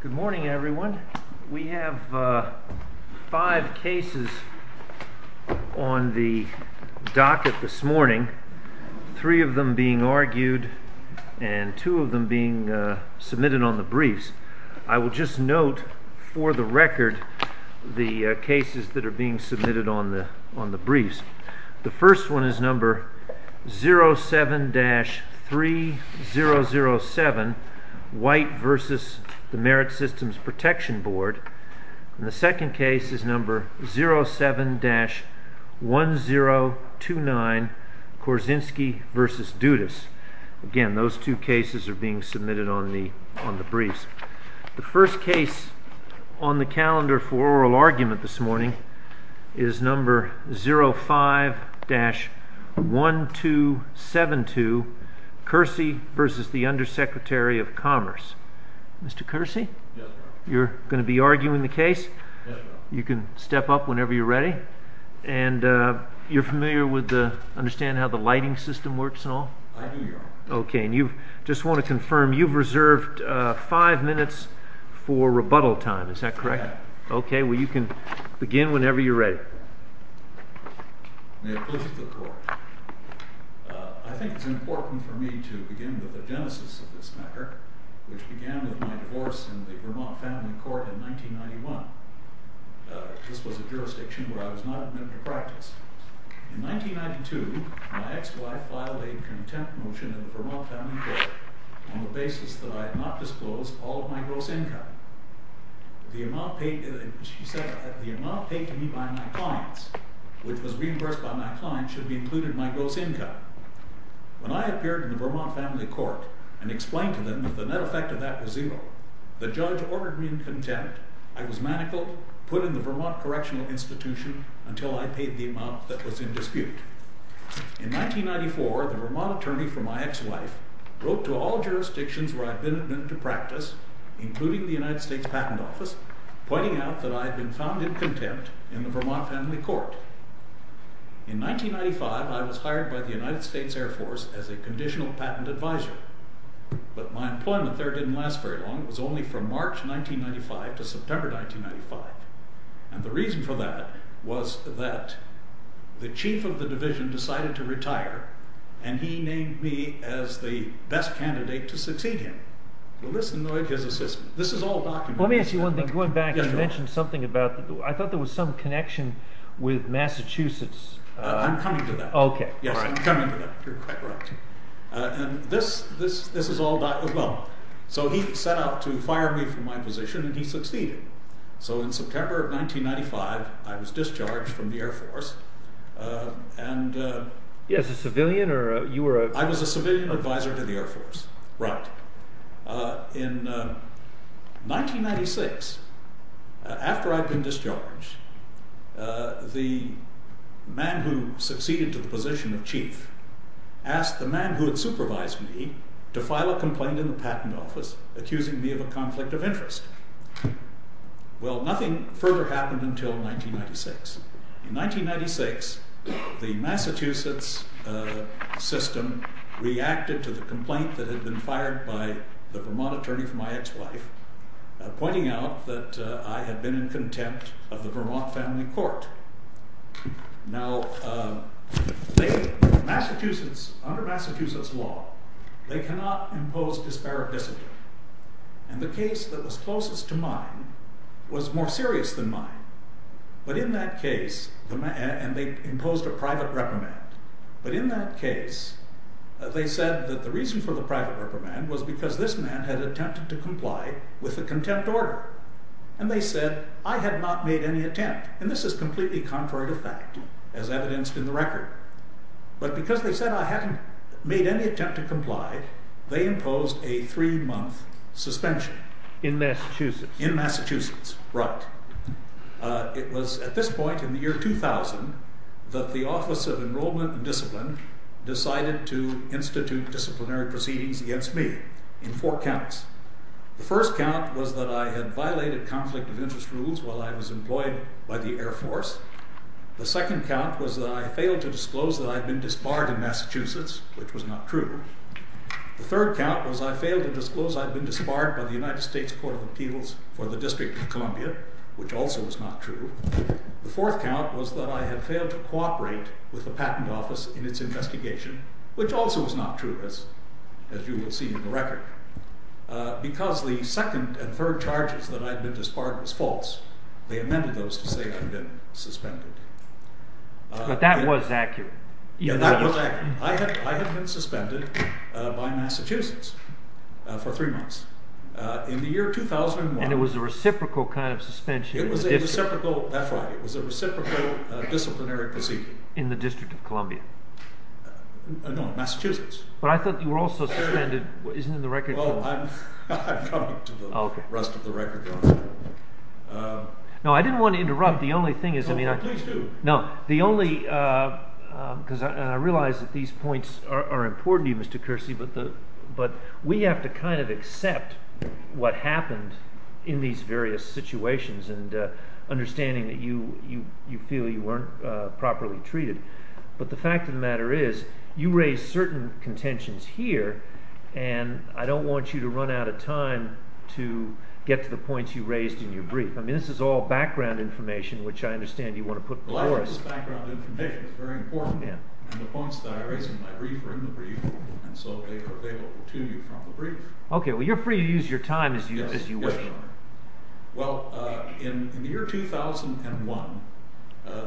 Good morning everyone. We have five cases on the docket this morning, three of them being argued and two of them being submitted on the briefs. I will just note for the record the cases that are being submitted on the on the briefs. The first case on the calendar for oral argument this morning is number 05-1272 Kersey v. Under Secretary of Commerce. Mr. Kersey? Yes, sir. You're going to be arguing the case? Yes, sir. You can step up whenever you're ready and you're familiar with the, understand how the lighting system works and all? I do, your honor. Okay, and you just want to confirm you've reserved five minutes for rebuttal time, is that correct? Okay. Okay, well you can begin whenever you're ready. May it please the court. I think it's important for me to begin with the genesis of this matter, which began with my divorce in the Vermont Family Court in 1991. This was a jurisdiction where I was not admitted to practice. In 1992, my ex-wife filed a contempt motion in the Vermont Family Court on the basis that I had not disclosed all of my gross income. She said that the amount paid to me by my clients, which was reimbursed by my clients, should be included in my gross income. When I appeared in the Vermont Family Court and explained to them that the net effect of that was zero, the judge ordered me in contempt. I was manacled, put in the Vermont Correctional Institution until I paid the amount that was in dispute. In 1994, the Vermont attorney for my ex-wife wrote to all jurisdictions where I'd been admitted to practice, including the United States Patent Office, pointing out that I had been found in contempt in the Vermont Family Court. In 1995, I was hired by the United States Air Force as a conditional patent advisor, but my employment there didn't last very long. It was only from March 1995 to September 1995, and the reason for that was that the chief of the division decided to retire, and he named me as the best candidate to succeed him. Well, this annoyed his assistant. This is all documented. Let me ask you one thing. Going back, you mentioned something about, I thought there was some connection with Massachusetts. I'm coming to that. You're quite right. This is all documented as well. So he set out to fire me from my position, and he succeeded. So in September of 1995, I was discharged from the Air Force, and I was a civilian advisor to the Air Force. Right. In 1996, after I'd been discharged, the man who succeeded to the position of chief asked the man who had supervised me to file a complaint in the Patent Office, accusing me of a conflict of interest. Well, nothing further happened until 1996. In 1996, the Massachusetts system reacted to the complaint that had been fired by the Vermont attorney for my ex-wife, pointing out that I had been in contempt of the Vermont Family Court. Now, Massachusetts, under Massachusetts law, they cannot impose disparate decision, and the case that was closest to mine was more serious than mine, but in that case, and they imposed a private reprimand, but in that case, they said that the reason for the private reprimand was because this man had attempted to comply with the contempt order, and they said, I had not made any attempt, and this is completely contrary to fact, as evidenced in the record, but because they said I hadn't made any attempt to comply, they imposed a three-month suspension. In Massachusetts. In Massachusetts, right. It was at this point in the year 2000 that the Office of Enrollment and Discipline decided to institute disciplinary proceedings against me in four counts. The first count was that I had violated conflict of interest rules while I was employed by the Air Force. The second count was that I failed to disclose that I had been disbarred in Massachusetts, which was not true. The third count was that I failed to disclose that I had been disbarred by the United States Court of Appeals for the District of Columbia, which also was not true. The fourth count was that I had failed to cooperate with the Patent Office in its investigation, which also was not true, as you will see in the record, because the second and third charges that I had been disbarred was false. They amended those to say that I had been suspended. But that was accurate. Yes, that was accurate. I had been suspended by Massachusetts for three months. In the year 2001— And it was a reciprocal kind of suspension. It was a reciprocal—that's right. It was a reciprocal disciplinary proceeding. In the District of Columbia. No, Massachusetts. But I thought you were also suspended—isn't it in the record? Well, I'm coming to the rest of the record. No, I didn't want to interrupt. The only thing is— No, please do. No, the only—because I realize that these points are important to you, Mr. Kersey, but we have to kind of accept what happened in these various situations and understanding that you feel you weren't properly treated. But the fact of the matter is, you raised certain contentions here, and I don't want you to run out of time to get to the points you raised in your brief. I mean, this is all background information, which I understand you want to put before us. Well, I think this background information is very important, and the points that I raised in my brief are in the brief, and so they are available to you from the brief. Okay, well, you're free to use your time as you wish. Well, in the year 2001,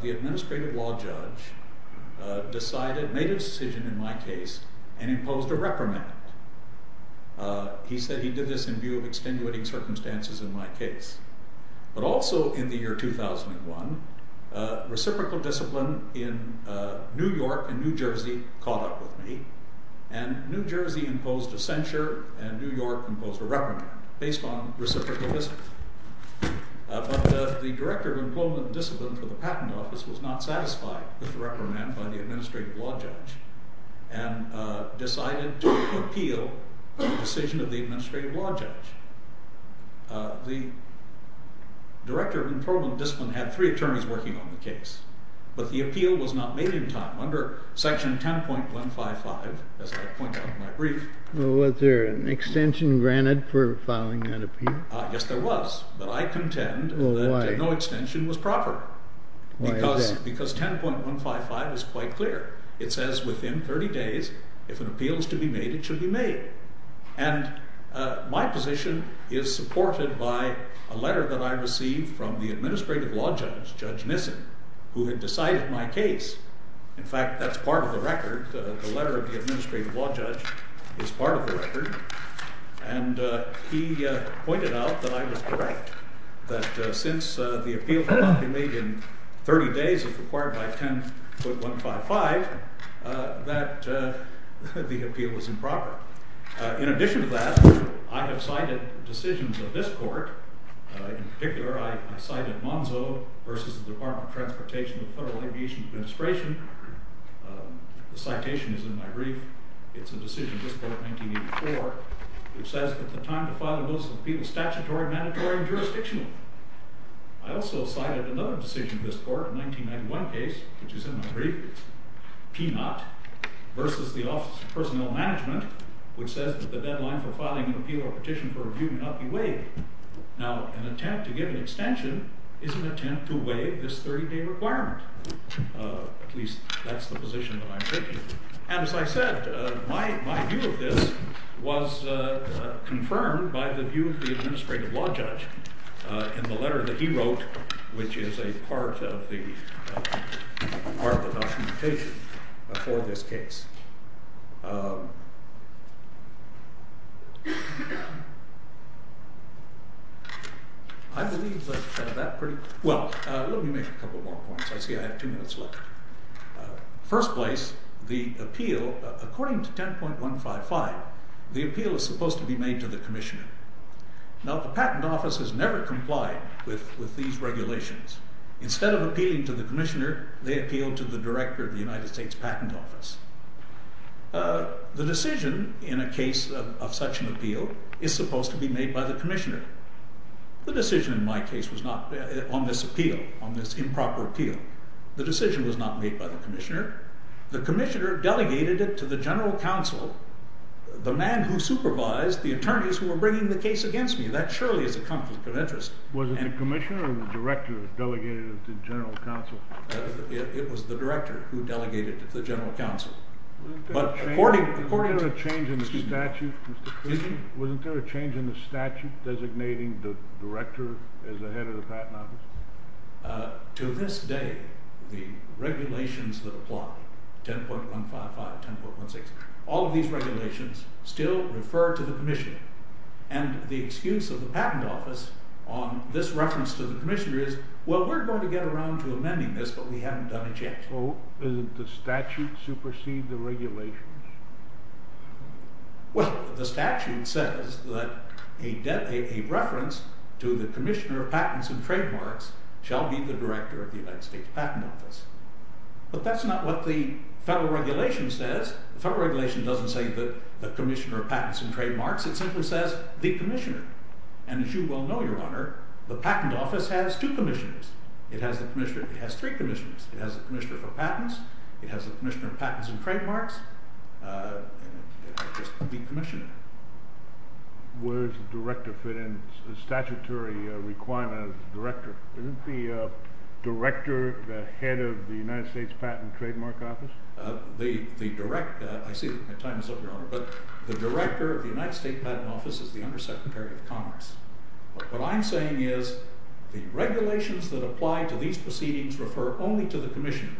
the administrative law judge decided—made a decision in my case and imposed a reprimand. He said he did this in view of extenuating circumstances in my case. But also in the year 2001, reciprocal discipline in New York and New Jersey caught up with me, and New Jersey imposed a censure and New York imposed a reprimand based on reciprocal discipline. But the director of employment and discipline for the patent office was not satisfied with the reprimand by the administrative law judge and decided to appeal the decision of the administrative law judge. The director of employment and discipline had three attorneys working on the case, but the appeal was not made in time under section 10.155, as I point out in my brief. Well, was there an extension granted for filing that appeal? Yes, there was, but I contend that no extension was proper. Why is that? Because 10.155 is quite clear. It says within 30 days, if an appeal is to be made, it should be made. And my position is supported by a letter that I received from the administrative law judge, Judge Nissen, who had decided my case. In fact, that's part of the record. The letter of the administrative law judge is part of the record. And he pointed out that I was correct, that since the appeal could not be made in 30 days if required by 10.155, that the appeal was improper. In addition to that, I have cited decisions of this court. In particular, I cited Monzo v. Department of Transportation of the Federal Aviation Administration. The citation is in my brief. It's a decision of this court, 1984, which says that the time to file an appeal is statutory, mandatory, and jurisdictional. I also cited another decision of this court, a 1991 case, which is in my brief. It's P-0 versus the Office of Personnel Management, which says that the deadline for filing an appeal or petition for review may not be waived. Now, an attempt to give an extension is an attempt to waive this 30-day requirement. At least, that's the position that I'm taking. And as I said, my view of this was confirmed by the view of the administrative law judge in the letter that he wrote, which is a part of the documentation for this case. I believe that that pretty – well, let me make a couple more points. I see I have two minutes left. First place, the appeal – according to 10.155, the appeal is supposed to be made to the commissioner. Now, the Patent Office has never complied with these regulations. Instead of appealing to the commissioner, they appealed to the director of the United States Patent Office. The decision in a case of such an appeal is supposed to be made by the commissioner. The decision in my case was not on this appeal, on this improper appeal. The decision was not made by the commissioner. The commissioner delegated it to the general counsel, the man who supervised the attorneys who were bringing the case against me. That surely is a conflict of interest. Was it the commissioner or the director who delegated it to the general counsel? It was the director who delegated it to the general counsel. Wasn't there a change in the statute designating the director as the head of the Patent Office? To this day, the regulations that apply, 10.155, 10.16, all of these regulations still refer to the commissioner. And the excuse of the Patent Office on this reference to the commissioner is, well, we're going to get around to amending this, but we haven't done it yet. So, isn't the statute supersede the regulations? Well, the statute says that a reference to the commissioner of patents and trademarks shall be the director of the United States Patent Office. But that's not what the federal regulation says. The federal regulation doesn't say the commissioner of patents and trademarks. It simply says the commissioner. And as you well know, Your Honor, the Patent Office has two commissioners. It has three commissioners. It has the commissioner for patents. It has the commissioner of patents and trademarks. It has just the commissioner. Where does the director fit in? The statutory requirement of the director. Isn't the director the head of the United States Patent and Trademark Office? I see that my time is up, Your Honor. But the director of the United States Patent Office is the Undersecretary of Commerce. What I'm saying is the regulations that apply to these proceedings refer only to the commissioner.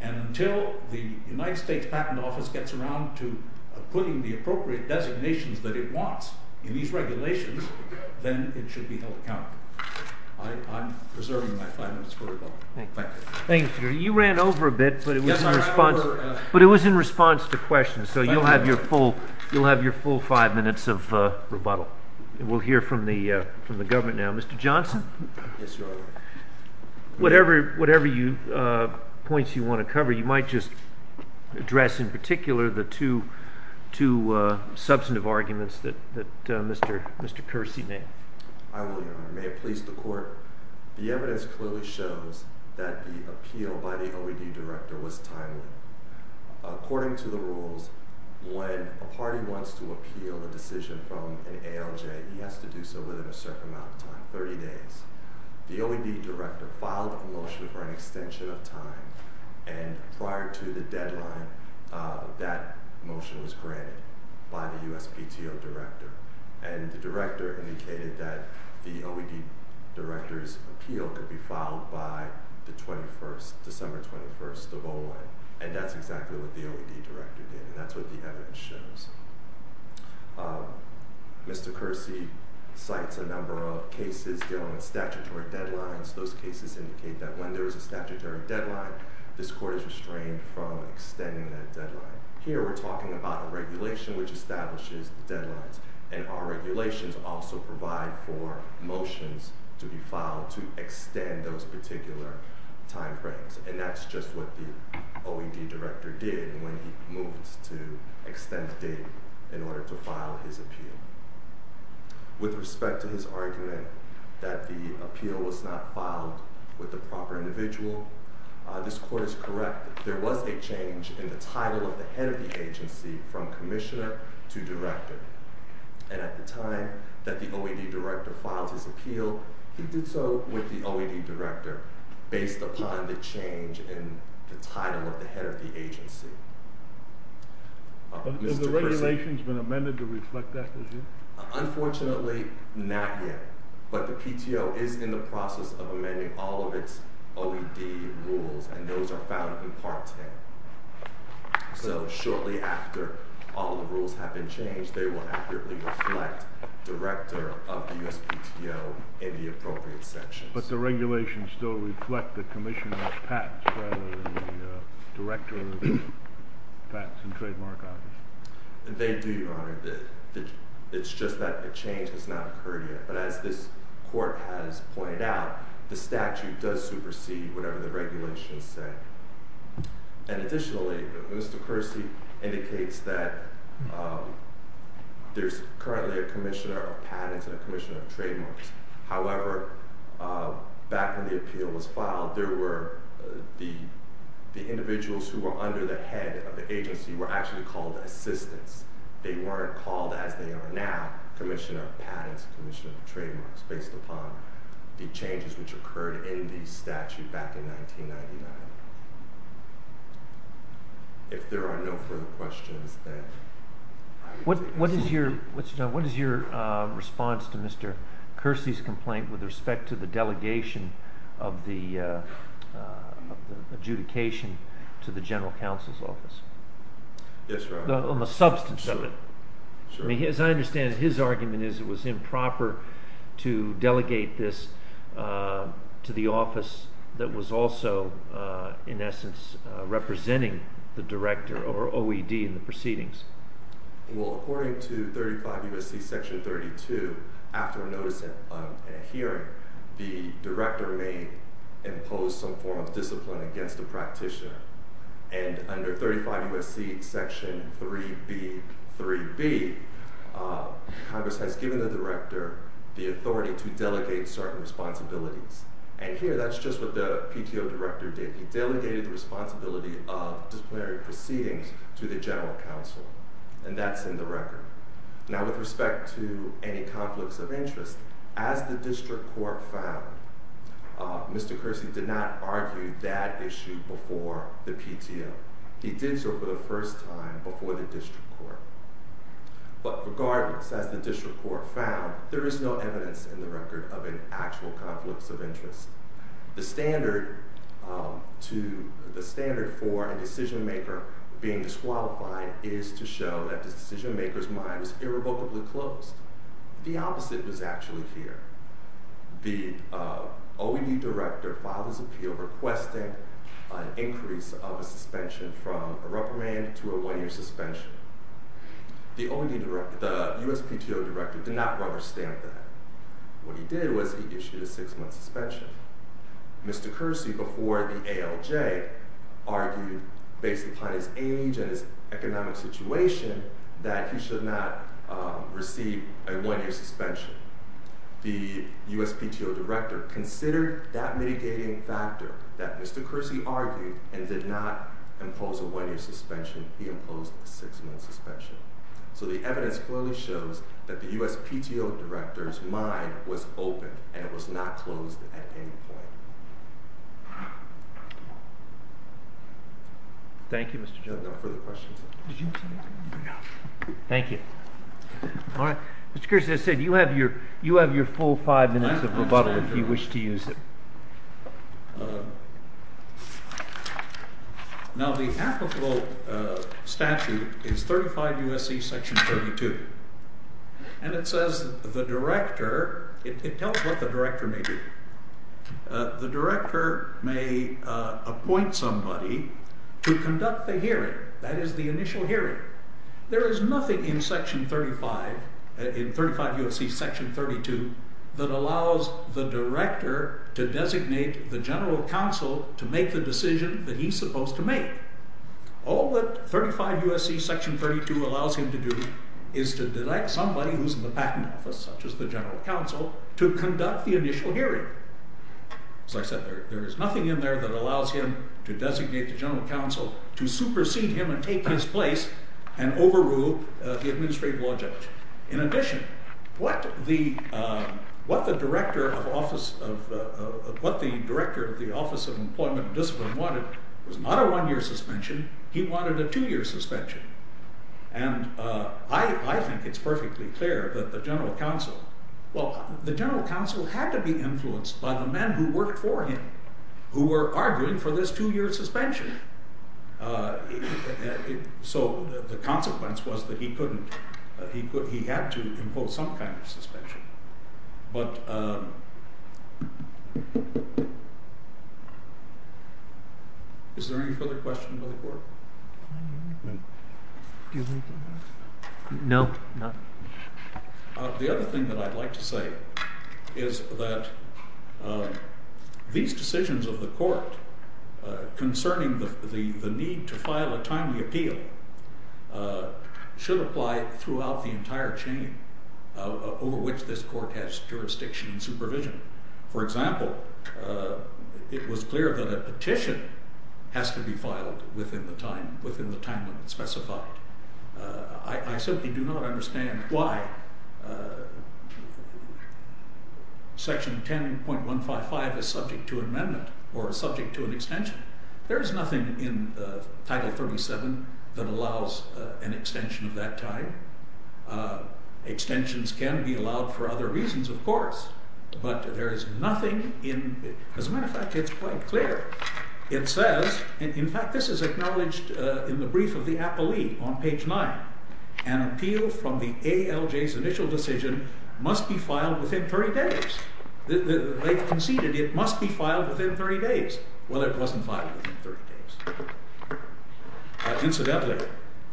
And until the United States Patent Office gets around to putting the appropriate designations that it wants in these regulations, then it should be held accountable. I'm reserving my five minutes for rebuttal. Thank you. You ran over a bit, but it was in response to questions. So you'll have your full five minutes of rebuttal. We'll hear from the government now. Mr. Johnson? Yes, Your Honor. Whatever points you want to cover, you might just address in particular the two substantive arguments that Mr. Kersey made. I will, Your Honor. May it please the Court. The evidence clearly shows that the appeal by the OED director was timely. According to the rules, when a party wants to appeal a decision from an ALJ, he has to do so within a certain amount of time, 30 days. The OED director filed a motion for an extension of time. And prior to the deadline, that motion was granted by the USPTO director. And the director indicated that the OED director's appeal could be filed by December 21st of O-1. And that's exactly what the OED director did. And that's what the evidence shows. Mr. Kersey cites a number of cases dealing with statutory deadlines. Those cases indicate that when there is a statutory deadline, this Court is restrained from extending that deadline. Here, we're talking about a regulation which establishes deadlines. And our regulations also provide for motions to be filed to extend those particular timeframes. And that's just what the OED director did when he moved to extend the date in order to file his appeal. With respect to his argument that the appeal was not filed with the proper individual, this Court is correct. There was a change in the title of the head of the agency from commissioner to director. And at the time that the OED director filed his appeal, he did so with the OED director based upon the change in the title of the head of the agency. Has the regulation been amended to reflect that position? Unfortunately, not yet. But the PTO is in the process of amending all of its OED rules. And those are found in Part 10. So shortly after all of the rules have been changed, they will accurately reflect director of the USPTO in the appropriate sections. But the regulations still reflect the commissioner's patents rather than the director of the Patents and Trademark Office. They do, Your Honor. It's just that the change has not occurred yet. But as this Court has pointed out, the statute does supersede whatever the regulations say. And additionally, Mr. Kersey indicates that there's currently a commissioner of patents and a commissioner of trademarks. However, back when the appeal was filed, the individuals who were under the head of the agency were actually called assistants. They weren't called as they are now commissioner of patents and commissioner of trademarks based upon the changes which occurred in the statute back in 1999. If there are no further questions, then... What is your response to Mr. Kersey's complaint with respect to the delegation of the adjudication to the General Counsel's Office? Yes, Your Honor. On the substance of it. As I understand it, his argument is it was improper to delegate this to the office that was also, in essence, representing the director or OED in the proceedings. Well, according to 35 U.S.C. section 32, after a notice and a hearing, the director may impose some form of discipline against the practitioner. And under 35 U.S.C. section 3B, 3B, Congress has given the director the authority to delegate certain responsibilities. And here, that's just what the PTO director did. He delegated the responsibility of disciplinary proceedings to the General Counsel. And that's in the record. Now, with respect to any conflicts of interest, as the district court found, Mr. Kersey did not argue that issue before the PTO. He did so for the first time before the district court. But regardless, as the district court found, there is no evidence in the record of an actual conflict of interest. The standard for a decision-maker being disqualified is to show that the decision-maker's mind was irrevocably closed. The opposite was actually here. The OED director filed his appeal requesting an increase of a suspension from a rubber band to a one-year suspension. The USPTO director did not rubber-stamp that. What he did was he issued a six-month suspension. Mr. Kersey, before the ALJ, argued, based upon his age and his economic situation, that he should not receive a one-year suspension. The USPTO director considered that mitigating factor that Mr. Kersey argued and did not impose a one-year suspension. He imposed a six-month suspension. So the evidence clearly shows that the USPTO director's mind was open, and it was not closed at any point. Thank you, Mr. Kersey. Mr. Kersey, as I said, you have your full five minutes of rebuttal if you wish to use it. Now the applicable statute is 35 U.S.C. section 32, and it says the director, it tells what the director may do. The director may appoint somebody to conduct the hearing, that is the initial hearing. There is nothing in section 35, in 35 U.S.C. section 32, that allows the director to designate the general counsel to make the decision that he's supposed to make. All that 35 U.S.C. section 32 allows him to do is to direct somebody who's in the patent office, such as the general counsel, to conduct the initial hearing. As I said, there is nothing in there that allows him to designate the general counsel to supersede him and take his place and overrule the administrative law judge. In addition, what the director of the Office of Employment and Discipline wanted was not a one-year suspension, he wanted a two-year suspension. And I think it's perfectly clear that the general counsel, well, the general counsel had to be influenced by the men who worked for him, who were arguing for this two-year suspension. So the consequence was that he couldn't, he had to impose some kind of suspension. But, is there any further questions of the court? No. The other thing that I'd like to say is that these decisions of the court concerning the need to file a timely appeal should apply throughout the entire chain over which this court has jurisdiction and supervision. For example, it was clear that a petition has to be filed within the time limit specified. I simply do not understand why section 10.155 is subject to amendment or is subject to an extension. There is nothing in Title 37 that allows an extension of that time. Extensions can be allowed for other reasons, of course, but there is nothing in, as a matter of fact, it's quite clear. It says, in fact this is acknowledged in the brief of the appellee on page 9, an appeal from the ALJ's initial decision must be filed within 30 days. They conceded it must be filed within 30 days. Well, it wasn't filed within 30 days. Incidentally,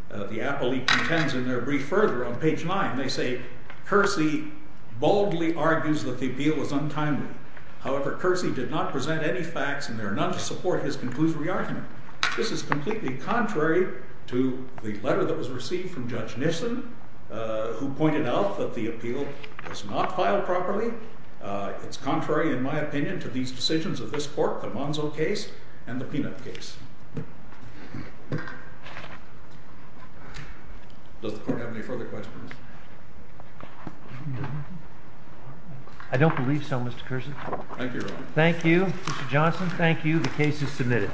the appellee contends in their brief further on page 9, they say, Cursi boldly argues that the appeal was untimely. However, Cursi did not present any facts and there are none to support his conclusory argument. This is completely contrary to the letter that was received from Judge Nissen who pointed out that the appeal was not filed properly It's contrary, in my opinion, to these decisions of this Court, the Monzo case and the Peanut case. Does the Court have any further questions? I don't believe so, Mr. Cursi. Thank you, Your Honor. Thank you, Mr. Johnson. Thank you. The case is submitted.